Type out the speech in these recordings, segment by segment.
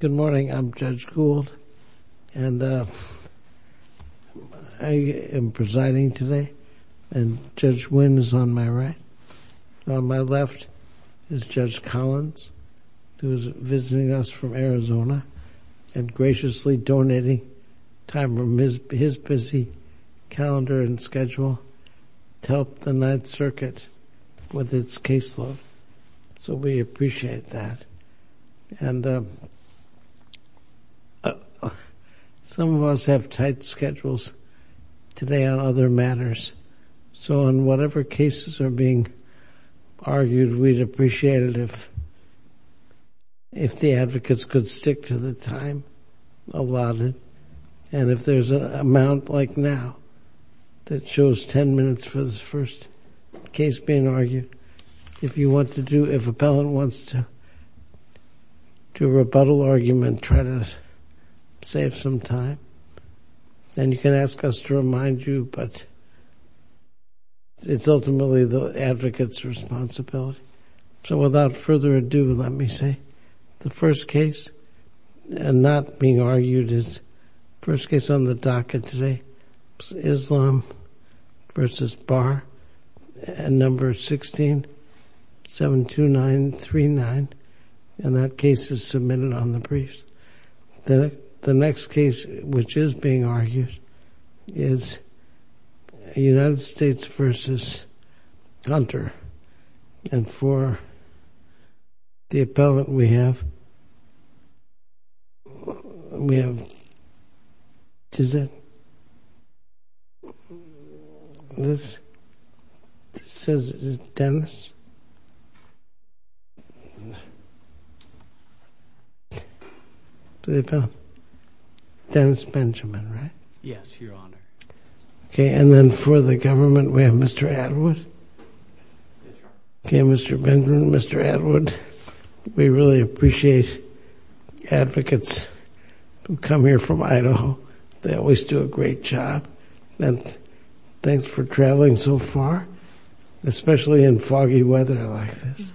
Good morning I'm Judge Gould and I am presiding today and Judge Wynn is on my right. On my left is Judge Collins who is visiting us from Arizona and graciously donating time from his busy calendar and schedule to help the Ninth Circuit with its caseload so we appreciate that. And some of us have tight schedules today on other matters so on whatever cases are being argued we'd appreciate it if the advocates could stick to the time allotted and if there's an amount like now that shows 10 minutes for this first case being argued. If you want to do if appellant wants to do a rebuttal argument try to save some time then you can ask us to remind you but it's ultimately the advocates responsibility. So without further ado let me say the first case and not being argued is first case on the docket today is Islam v. Barr and number 16-72939 and that case is submitted on the briefs. Then the next case which is being argued is United is it this says it is Dennis, Dennis Benjamin right? Yes your honor. Okay and then for the government we have Mr. Atwood. Okay Mr. Benjamin, Mr. Atwood we really appreciate advocates who come here from Idaho. They always do a great job and thanks for traveling so far especially in foggy weather like this.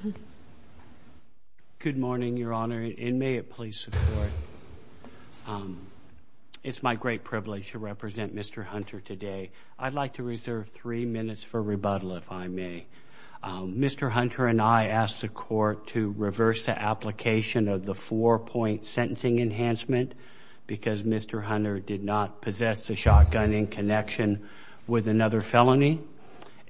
Good morning your honor and may it please support. It's my great privilege to represent Mr. Hunter today. I'd like to reserve three minutes for rebuttal if I may. Mr. Hunter and I asked the court to reverse the application of the four-point sentencing enhancement because Mr. Hunter did not possess the shotgun in connection with another felony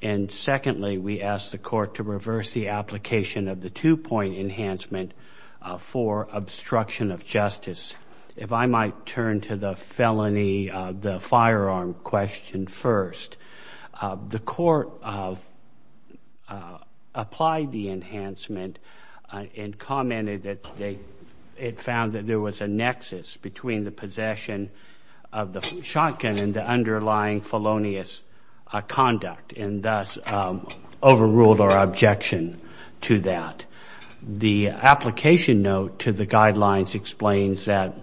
and secondly we asked the court to reverse the application of the two-point enhancement for obstruction of justice. If I might turn to the felony the firearm question first. The court of applied the enhancement and commented that they it found that there was a nexus between the possession of the shotgun and the underlying felonious conduct and thus overruled our objection to that. The application note to the guidelines explains that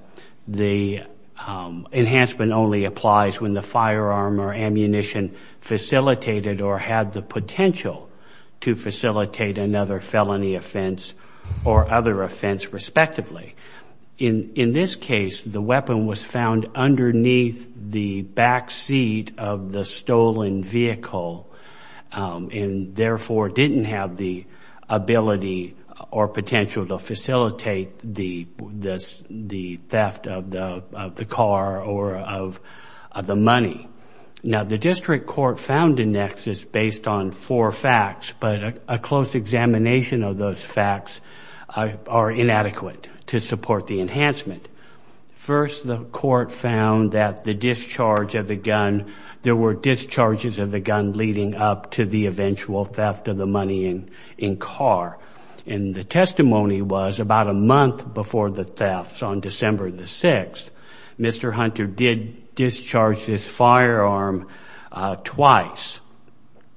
the enhancement only applies when the firearm or potential to facilitate another felony offense or other offense respectively. In in this case the weapon was found underneath the back seat of the stolen vehicle and therefore didn't have the ability or potential to facilitate the this the theft of the car or of the money. Now the district court found a basis based on four facts but a close examination of those facts are inadequate to support the enhancement. First the court found that the discharge of the gun there were discharges of the gun leading up to the eventual theft of the money in in car and the testimony was about a month before the thefts on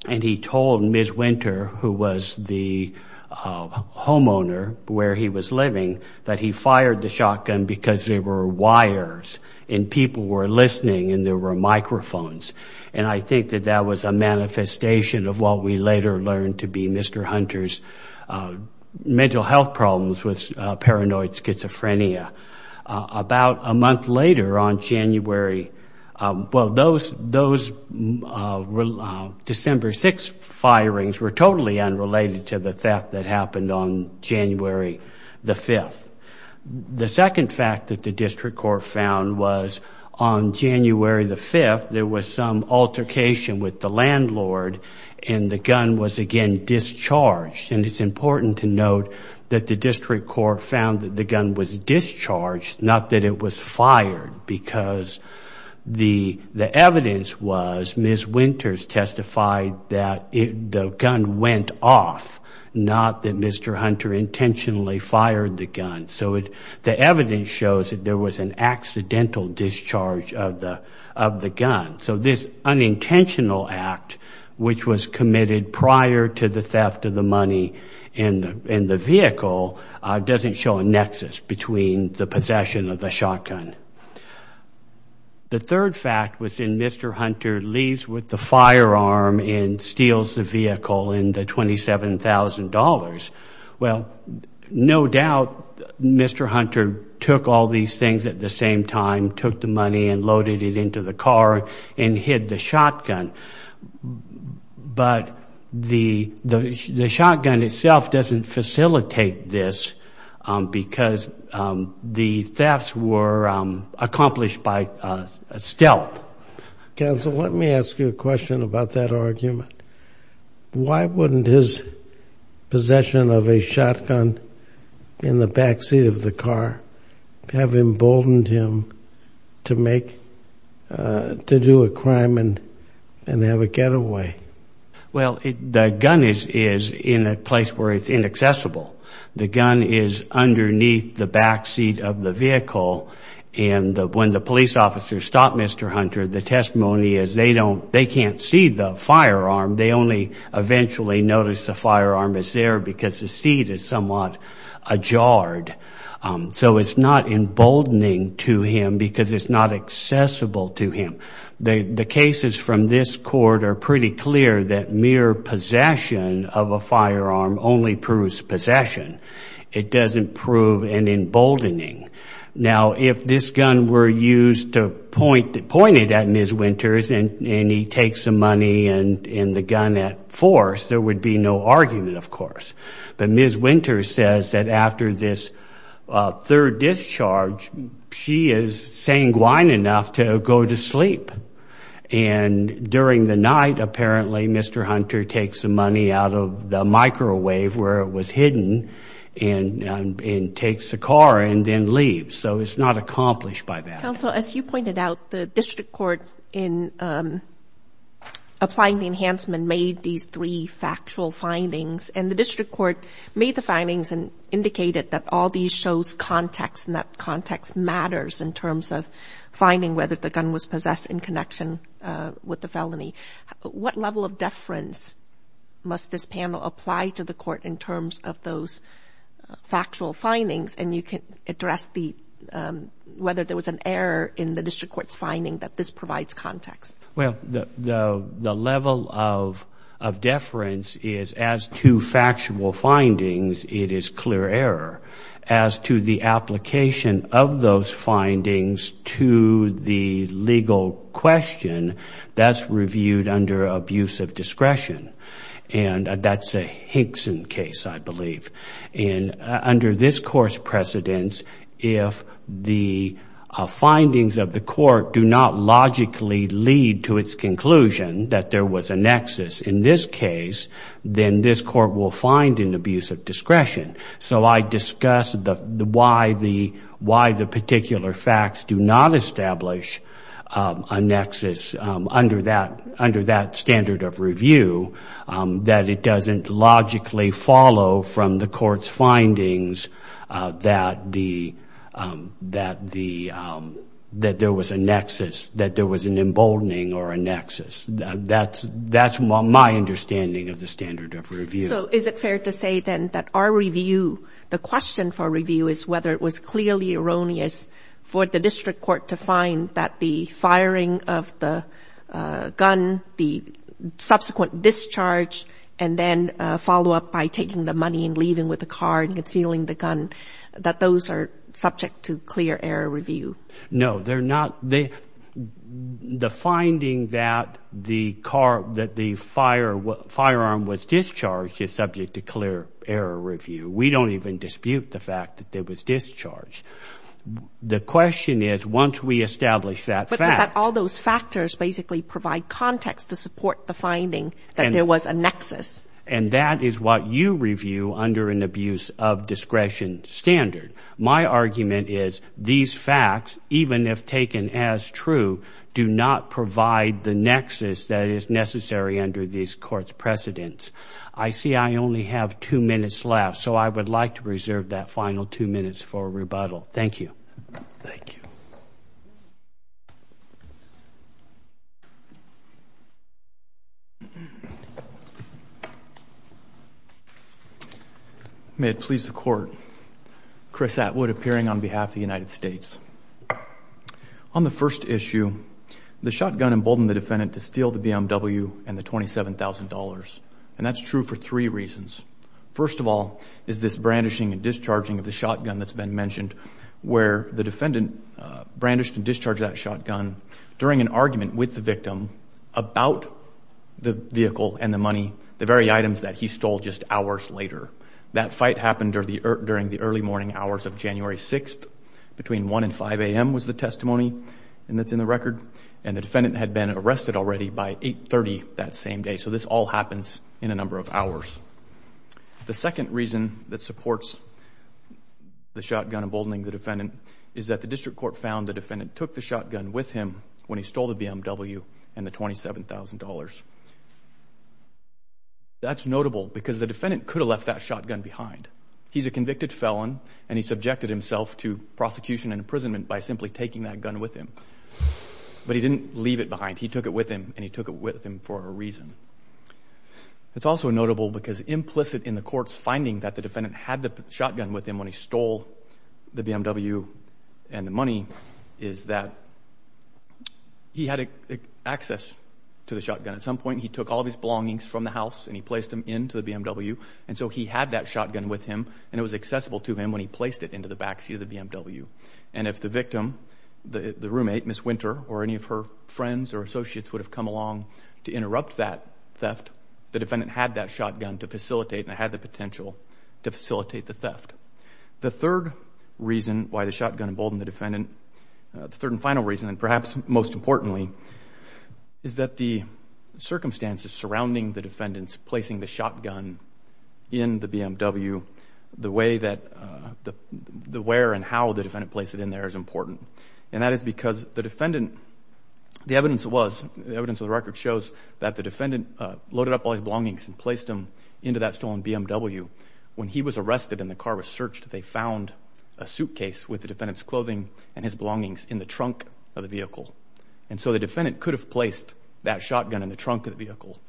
and he told Ms. Winter who was the homeowner where he was living that he fired the shotgun because there were wires and people were listening and there were microphones and I think that that was a manifestation of what we later learned to be Mr. Hunter's mental health problems with paranoid December 6 firings were totally unrelated to the theft that happened on January the 5th. The second fact that the district court found was on January the 5th there was some altercation with the landlord and the gun was again discharged and it's important to note that the district court found that the gun was discharged not that it was fired because the the evidence was Ms. Winters testified that the gun went off not that Mr. Hunter intentionally fired the gun so it the evidence shows that there was an accidental discharge of the of the gun so this unintentional act which was committed prior to the theft of the money and in the vehicle doesn't show a nexus between the possession of the firearm and steals the vehicle and the $27,000 well no doubt Mr. Hunter took all these things at the same time took the money and loaded it into the car and hid the shotgun but the the shotgun itself doesn't facilitate this because the thefts were accomplished by a stealth. Counsel let me ask you a question about that argument why wouldn't his possession of a shotgun in the backseat of the car have emboldened him to make to do a crime and and have a getaway well the gun is is in a place where it's inaccessible the gun is underneath the backseat of the vehicle and when the police officer stopped Mr. Hunter the testimony is they don't they can't see the firearm they only eventually notice the firearm is there because the seat is somewhat ajar so it's not emboldening to him because it's not accessible to him the cases from this court are pretty clear that mere possession of a firearm only proves possession it doesn't prove an emboldening now if this gun were used to point it pointed at Ms. Winters and and he takes the money and in the gun at force there would be no argument of course but Ms. Winters says that after this third discharge she is sanguine enough to go to sleep and during the night apparently Mr. Hunter takes the money out of the microwave where it was hidden and takes the car and then leaves so it's not accomplished by that counsel as you pointed out the district court in applying the enhancement made these three factual findings and the district court made the findings and indicated that all these shows context and that context matters in terms of finding whether the gun was possessed in connection with the felony what level of those factual findings and you can address the whether there was an error in the district court's finding that this provides context well the the level of of deference is as to factual findings it is clear error as to the application of those findings to the legal question that's reviewed under abuse of discretion and that's a Hinkson case I believe in under this course precedence if the findings of the court do not logically lead to its conclusion that there was a nexus in this case then this court will find an abuse of discretion so I discussed the why the why the particular facts do not nexus under that under that standard of review that it doesn't logically follow from the court's findings that the that the that there was a nexus that there was an emboldening or a nexus that's that's my understanding of the standard of review so is it fair to say then that our review the question for review is whether it was clearly erroneous for the district court to find that the firing of the gun the subsequent discharge and then follow up by taking the money and leaving with the car and concealing the gun that those are subject to clear error review no they're not they the finding that the car that the fire what firearm was discharged is subject to clear error review we don't even dispute the fact that there was discharge the question is once we establish that fact all those factors basically provide context to support the finding and there was a nexus and that is what you review under an abuse of discretion standard my argument is these facts even if taken as true do not provide the nexus that is necessary under these courts precedents I see I only have two minutes left so I would like to preserve that final two minutes for rebuttal thank you you may it please the court Chris Atwood appearing on behalf of the United States on the first issue the shotgun emboldened the defendant to steal the BMW and the $27,000 and that's true for three reasons first of all is this brandishing and discharging of the shotgun that's been mentioned where the during an argument with the victim about the vehicle and the money the very items that he stole just hours later that fight happened during the early morning hours of January 6th between 1 and 5 a.m. was the testimony and that's in the record and the defendant had been arrested already by 830 that same day so this all happens in a number of hours the second reason that supports the shotgun emboldening the defendant is that the district court found the when he stole the BMW and the $27,000 that's notable because the defendant could have left that shotgun behind he's a convicted felon and he subjected himself to prosecution and imprisonment by simply taking that gun with him but he didn't leave it behind he took it with him and he took it with him for a reason it's also notable because implicit in the courts finding that the defendant had the shotgun with him when he stole the BMW and the money is that he had access to the shotgun at some point he took all these belongings from the house and he placed them into the BMW and so he had that shotgun with him and it was accessible to him when he placed it into the backseat of the BMW and if the victim the the roommate miss winter or any of her friends or associates would have come along to interrupt that theft the defendant had that shotgun to facilitate and I had the potential to facilitate the theft the third reason why the shotgun emboldened the defendant the third and final reason and perhaps most importantly is that the circumstances surrounding the defendants placing the shotgun in the BMW the way that the where and how the defendant place it in there is important and that is because the defendant the evidence was the evidence of the record shows that the defendant loaded up all his belongings and placed him into that stolen BMW when he was arrested and the car was searched they found a suitcase with the defendants clothing and his vehicle and so the defendant could have placed that shotgun in the trunk of the vehicle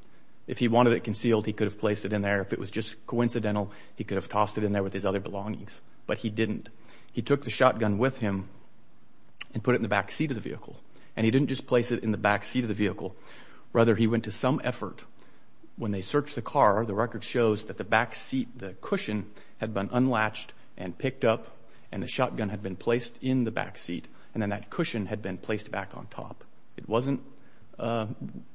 if he wanted it concealed he could have placed it in there if it was just coincidental he could have tossed it in there with his other belongings but he didn't he took the shotgun with him and put it in the backseat of the vehicle and he didn't just place it in the backseat of the vehicle rather he went to some effort when they searched the car the record shows that the backseat the cushion had been unlatched and picked up and the shotgun had been placed in the backseat and then that cushion had been placed back on top it wasn't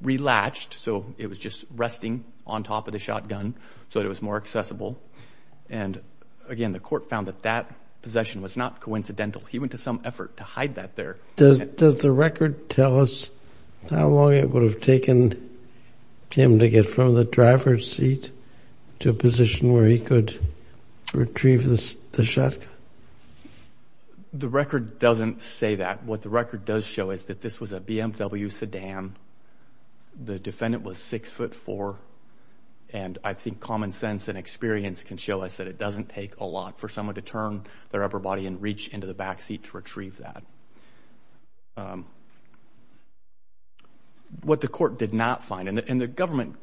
relatched so it was just resting on top of the shotgun so it was more accessible and again the court found that that possession was not coincidental he went to some effort to hide that there does the record tell us how long it would have taken him to get from the driver's seat to a position where he could retrieve the shotgun the record doesn't say that what the record does show is that this was a BMW sedan the defendant was six foot four and I think common sense and experience can show us that it doesn't take a lot for someone to turn their upper body and reach into the backseat to retrieve that what the court did not find and the government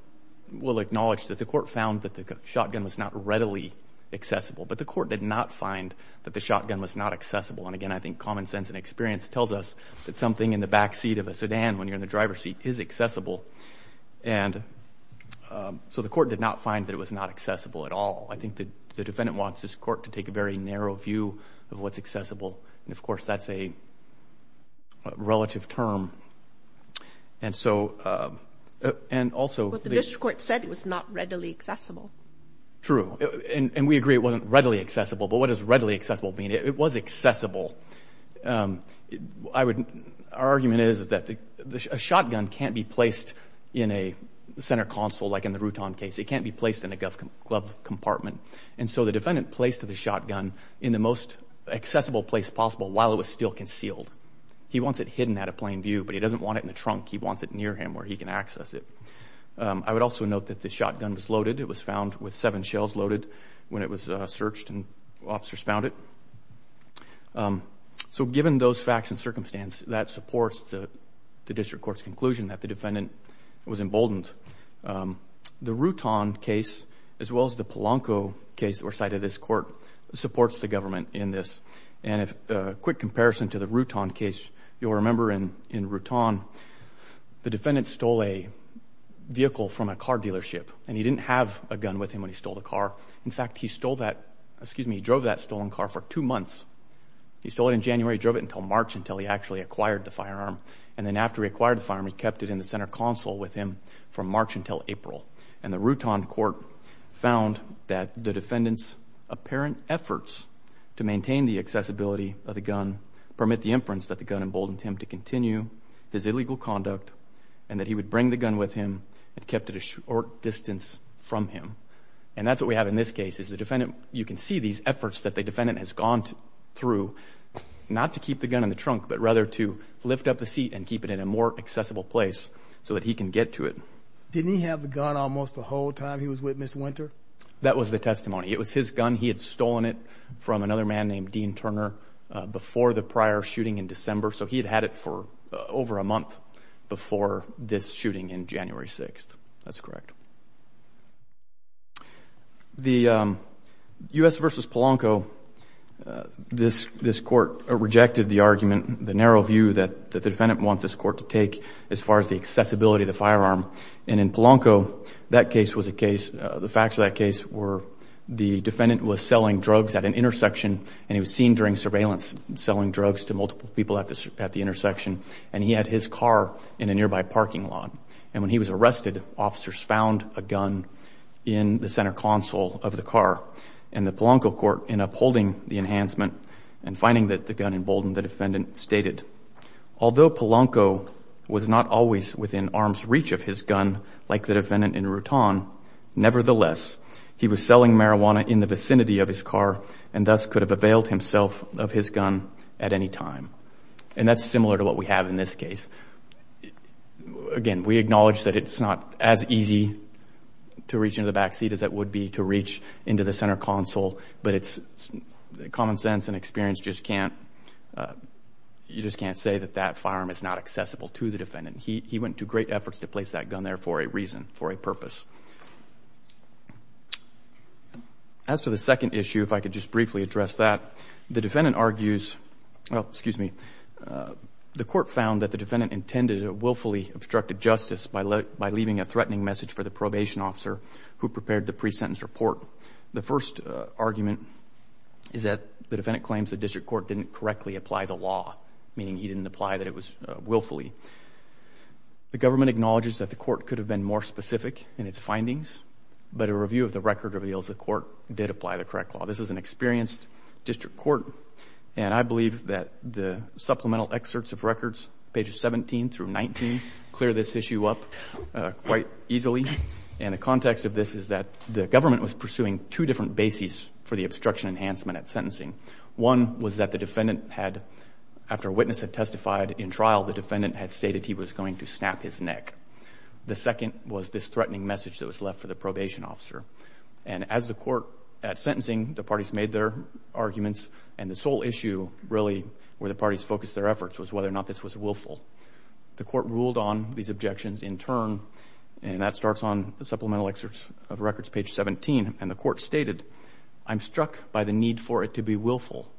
will acknowledge that the not readily accessible but the court did not find that the shotgun was not accessible and again I think common sense and experience tells us that something in the backseat of a sedan when you're in the driver's seat is accessible and so the court did not find that it was not accessible at all I think the defendant wants this court to take a very narrow view of what's accessible and of course that's a relative term and so and also the and we agree it wasn't readily accessible but what is readily accessible being it was accessible I wouldn't our argument is that the shotgun can't be placed in a center console like in the Routon case it can't be placed in a gov club compartment and so the defendant placed to the shotgun in the most accessible place possible while it was still concealed he wants it hidden at a plain view but he doesn't want it in the trunk he wants it near him where he can access it I would also note that this shotgun was loaded it was found with seven shells loaded when it was searched and officers found it so given those facts and circumstance that supports the the district courts conclusion that the defendant was emboldened the Routon case as well as the Polanco case that were cited this court supports the government in this and if a quick comparison to the Routon case you'll remember in in Routon the in fact he stole that excuse me he drove that stolen car for two months he stole it in January drove it until March until he actually acquired the firearm and then after he acquired the firearm he kept it in the center console with him from March until April and the Routon court found that the defendants apparent efforts to maintain the accessibility of the gun permit the inference that the gun emboldened him to continue his illegal conduct and that he would bring the gun with him and kept it a short distance from him and that's what we have in this case is the defendant you can see these efforts that the defendant has gone through not to keep the gun in the trunk but rather to lift up the seat and keep it in a more accessible place so that he can get to it didn't he have the gun almost the whole time he was with miss winter that was the testimony it was his gun he had stolen it from another man named Dean Turner before the prior shooting in December so he had had it for over a month before this shooting in January 6th that's correct the US versus Polanco this this court rejected the argument the narrow view that the defendant wants this court to take as far as the accessibility of the firearm and in Polanco that case was a case the facts of that case were the defendant was selling drugs at an intersection and he was seen during surveillance selling drugs to multiple people at this at the and when he was arrested officers found a gun in the center console of the car and the Polanco court in upholding the enhancement and finding that the gun emboldened the defendant stated although Polanco was not always within arm's reach of his gun like the defendant in Rutan nevertheless he was selling marijuana in the vicinity of his car and thus could have availed himself of his at any time and that's similar to what we have in this case again we acknowledge that it's not as easy to reach into the backseat as it would be to reach into the center console but it's common sense and experience just can't you just can't say that that firearm is not accessible to the defendant he went to great efforts to place that gun there for a reason for a purpose as for the second issue if I could just briefly address that the defendant argues excuse me the court found that the defendant intended a willfully obstructed justice by let by leaving a threatening message for the probation officer who prepared the pre-sentence report the first argument is that the defendant claims the district court didn't correctly apply the law meaning he didn't apply that it was willfully the government acknowledges that the court could have been more specific in its findings but a review of the record reveals the court did apply the correct law this is an experienced district court and I believe that the supplemental excerpts of records pages 17 through 19 clear this issue up quite easily and the context of this is that the government was pursuing two different bases for the obstruction enhancement at sentencing one was that the defendant had after witness had testified in trial the defendant had stated he was going to snap his neck the second was this threatening message that was left for the probation officer and as the court at sentencing the parties made their arguments and the sole issue really where the parties focus their efforts was whether or not this was willful the court ruled on these objections in turn and that starts on the supplemental excerpts of records page 17 and the court stated I'm struck by the need for it to be willful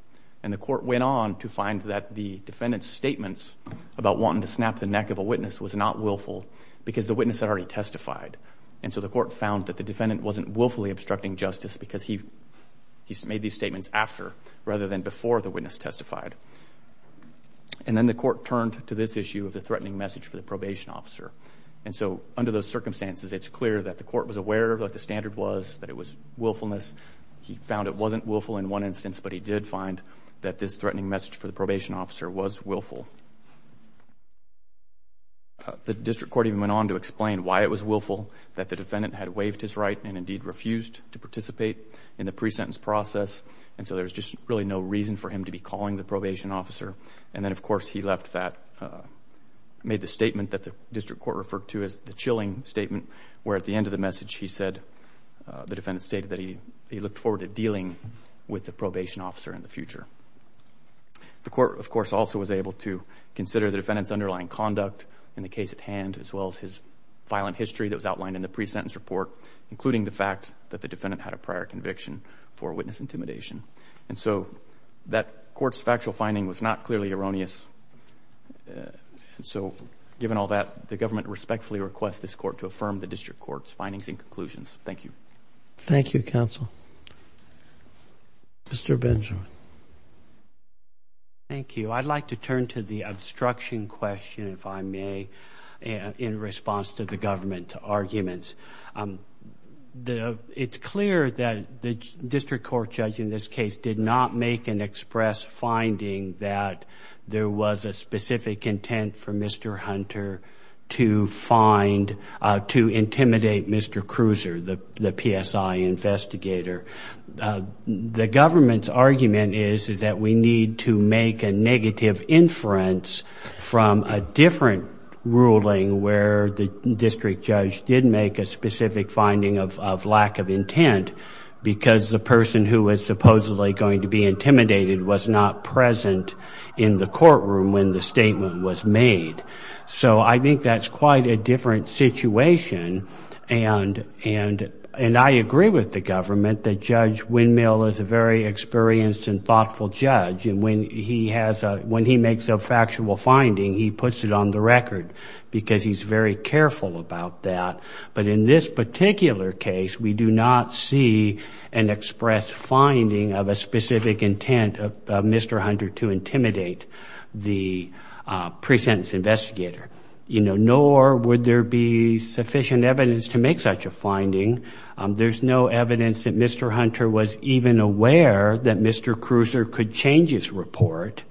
and the court went on to find that the defendant's statements about wanting to snap the neck of a witness was not willful because the witness had already testified and so the court found that the defendant wasn't willfully obstructing justice because he he's made these statements after rather than before the witness testified and then the court turned to this issue of the threatening message for the probation officer and so under those circumstances it's clear that the court was aware of what the standard was that it was willfulness he found it wasn't willful in one instance but he did find that this threatening message for the probation officer was willful the defendant had waived his right and indeed refused to participate in the pre-sentence process and so there's just really no reason for him to be calling the probation officer and then of course he left that made the statement that the district court referred to as the chilling statement where at the end of the message he said the defendants stated that he he looked forward to dealing with the probation officer in the future the court of course also was able to consider the defendants underlying conduct in the case at hand as well as his violent history that was outlined in the pre-sentence report including the fact that the defendant had a prior conviction for witness intimidation and so that courts factual finding was not clearly erroneous and so given all that the government respectfully request this court to affirm the district courts findings and conclusions thank you thank you counsel mr. Benjamin thank you I'd like to turn to the obstruction question if I may and in response to the government arguments the it's clear that the district court judge in this case did not make an express finding that there was a specific intent for mr. hunter to find to intimidate mr. cruiser the PSI investigator the government's argument is is that we need to make a negative inference from a different ruling where the district judge did make a specific finding of lack of intent because the person who was supposedly going to be intimidated was not present in the courtroom when the statement was made so I think that's quite a different situation and and and I agree with the government that judge windmill is a very experienced and thoughtful judge and he has a when he makes a factual finding he puts it on the record because he's very careful about that but in this particular case we do not see an express finding of a specific intent of mr. hunter to intimidate the present investigator you know nor would there be sufficient evidence to make such a finding there's no evidence that mr. hunter was even aware that mr. cruiser could change his report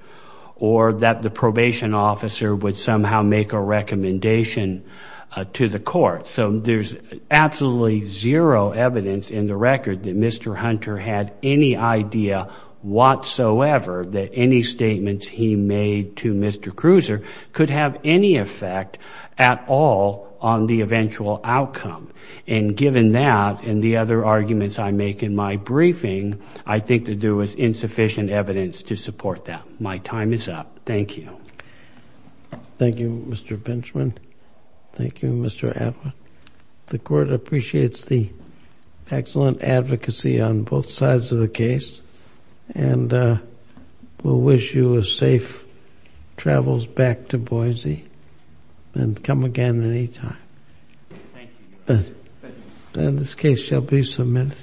or that the probation officer would somehow make a recommendation to the court so there's absolutely zero evidence in the record that mr. hunter had any idea whatsoever that any statements he made to mr. cruiser could have any effect at all on the eventual outcome and given that and the other arguments I make in my briefing I think to do with insufficient evidence to support that my time is up thank you thank you mr. Benjamin thank you mr. Atwood the court appreciates the excellent advocacy on both sides of the case and we'll wish you a safe travels back to Boise and come again any time in this case shall be submitted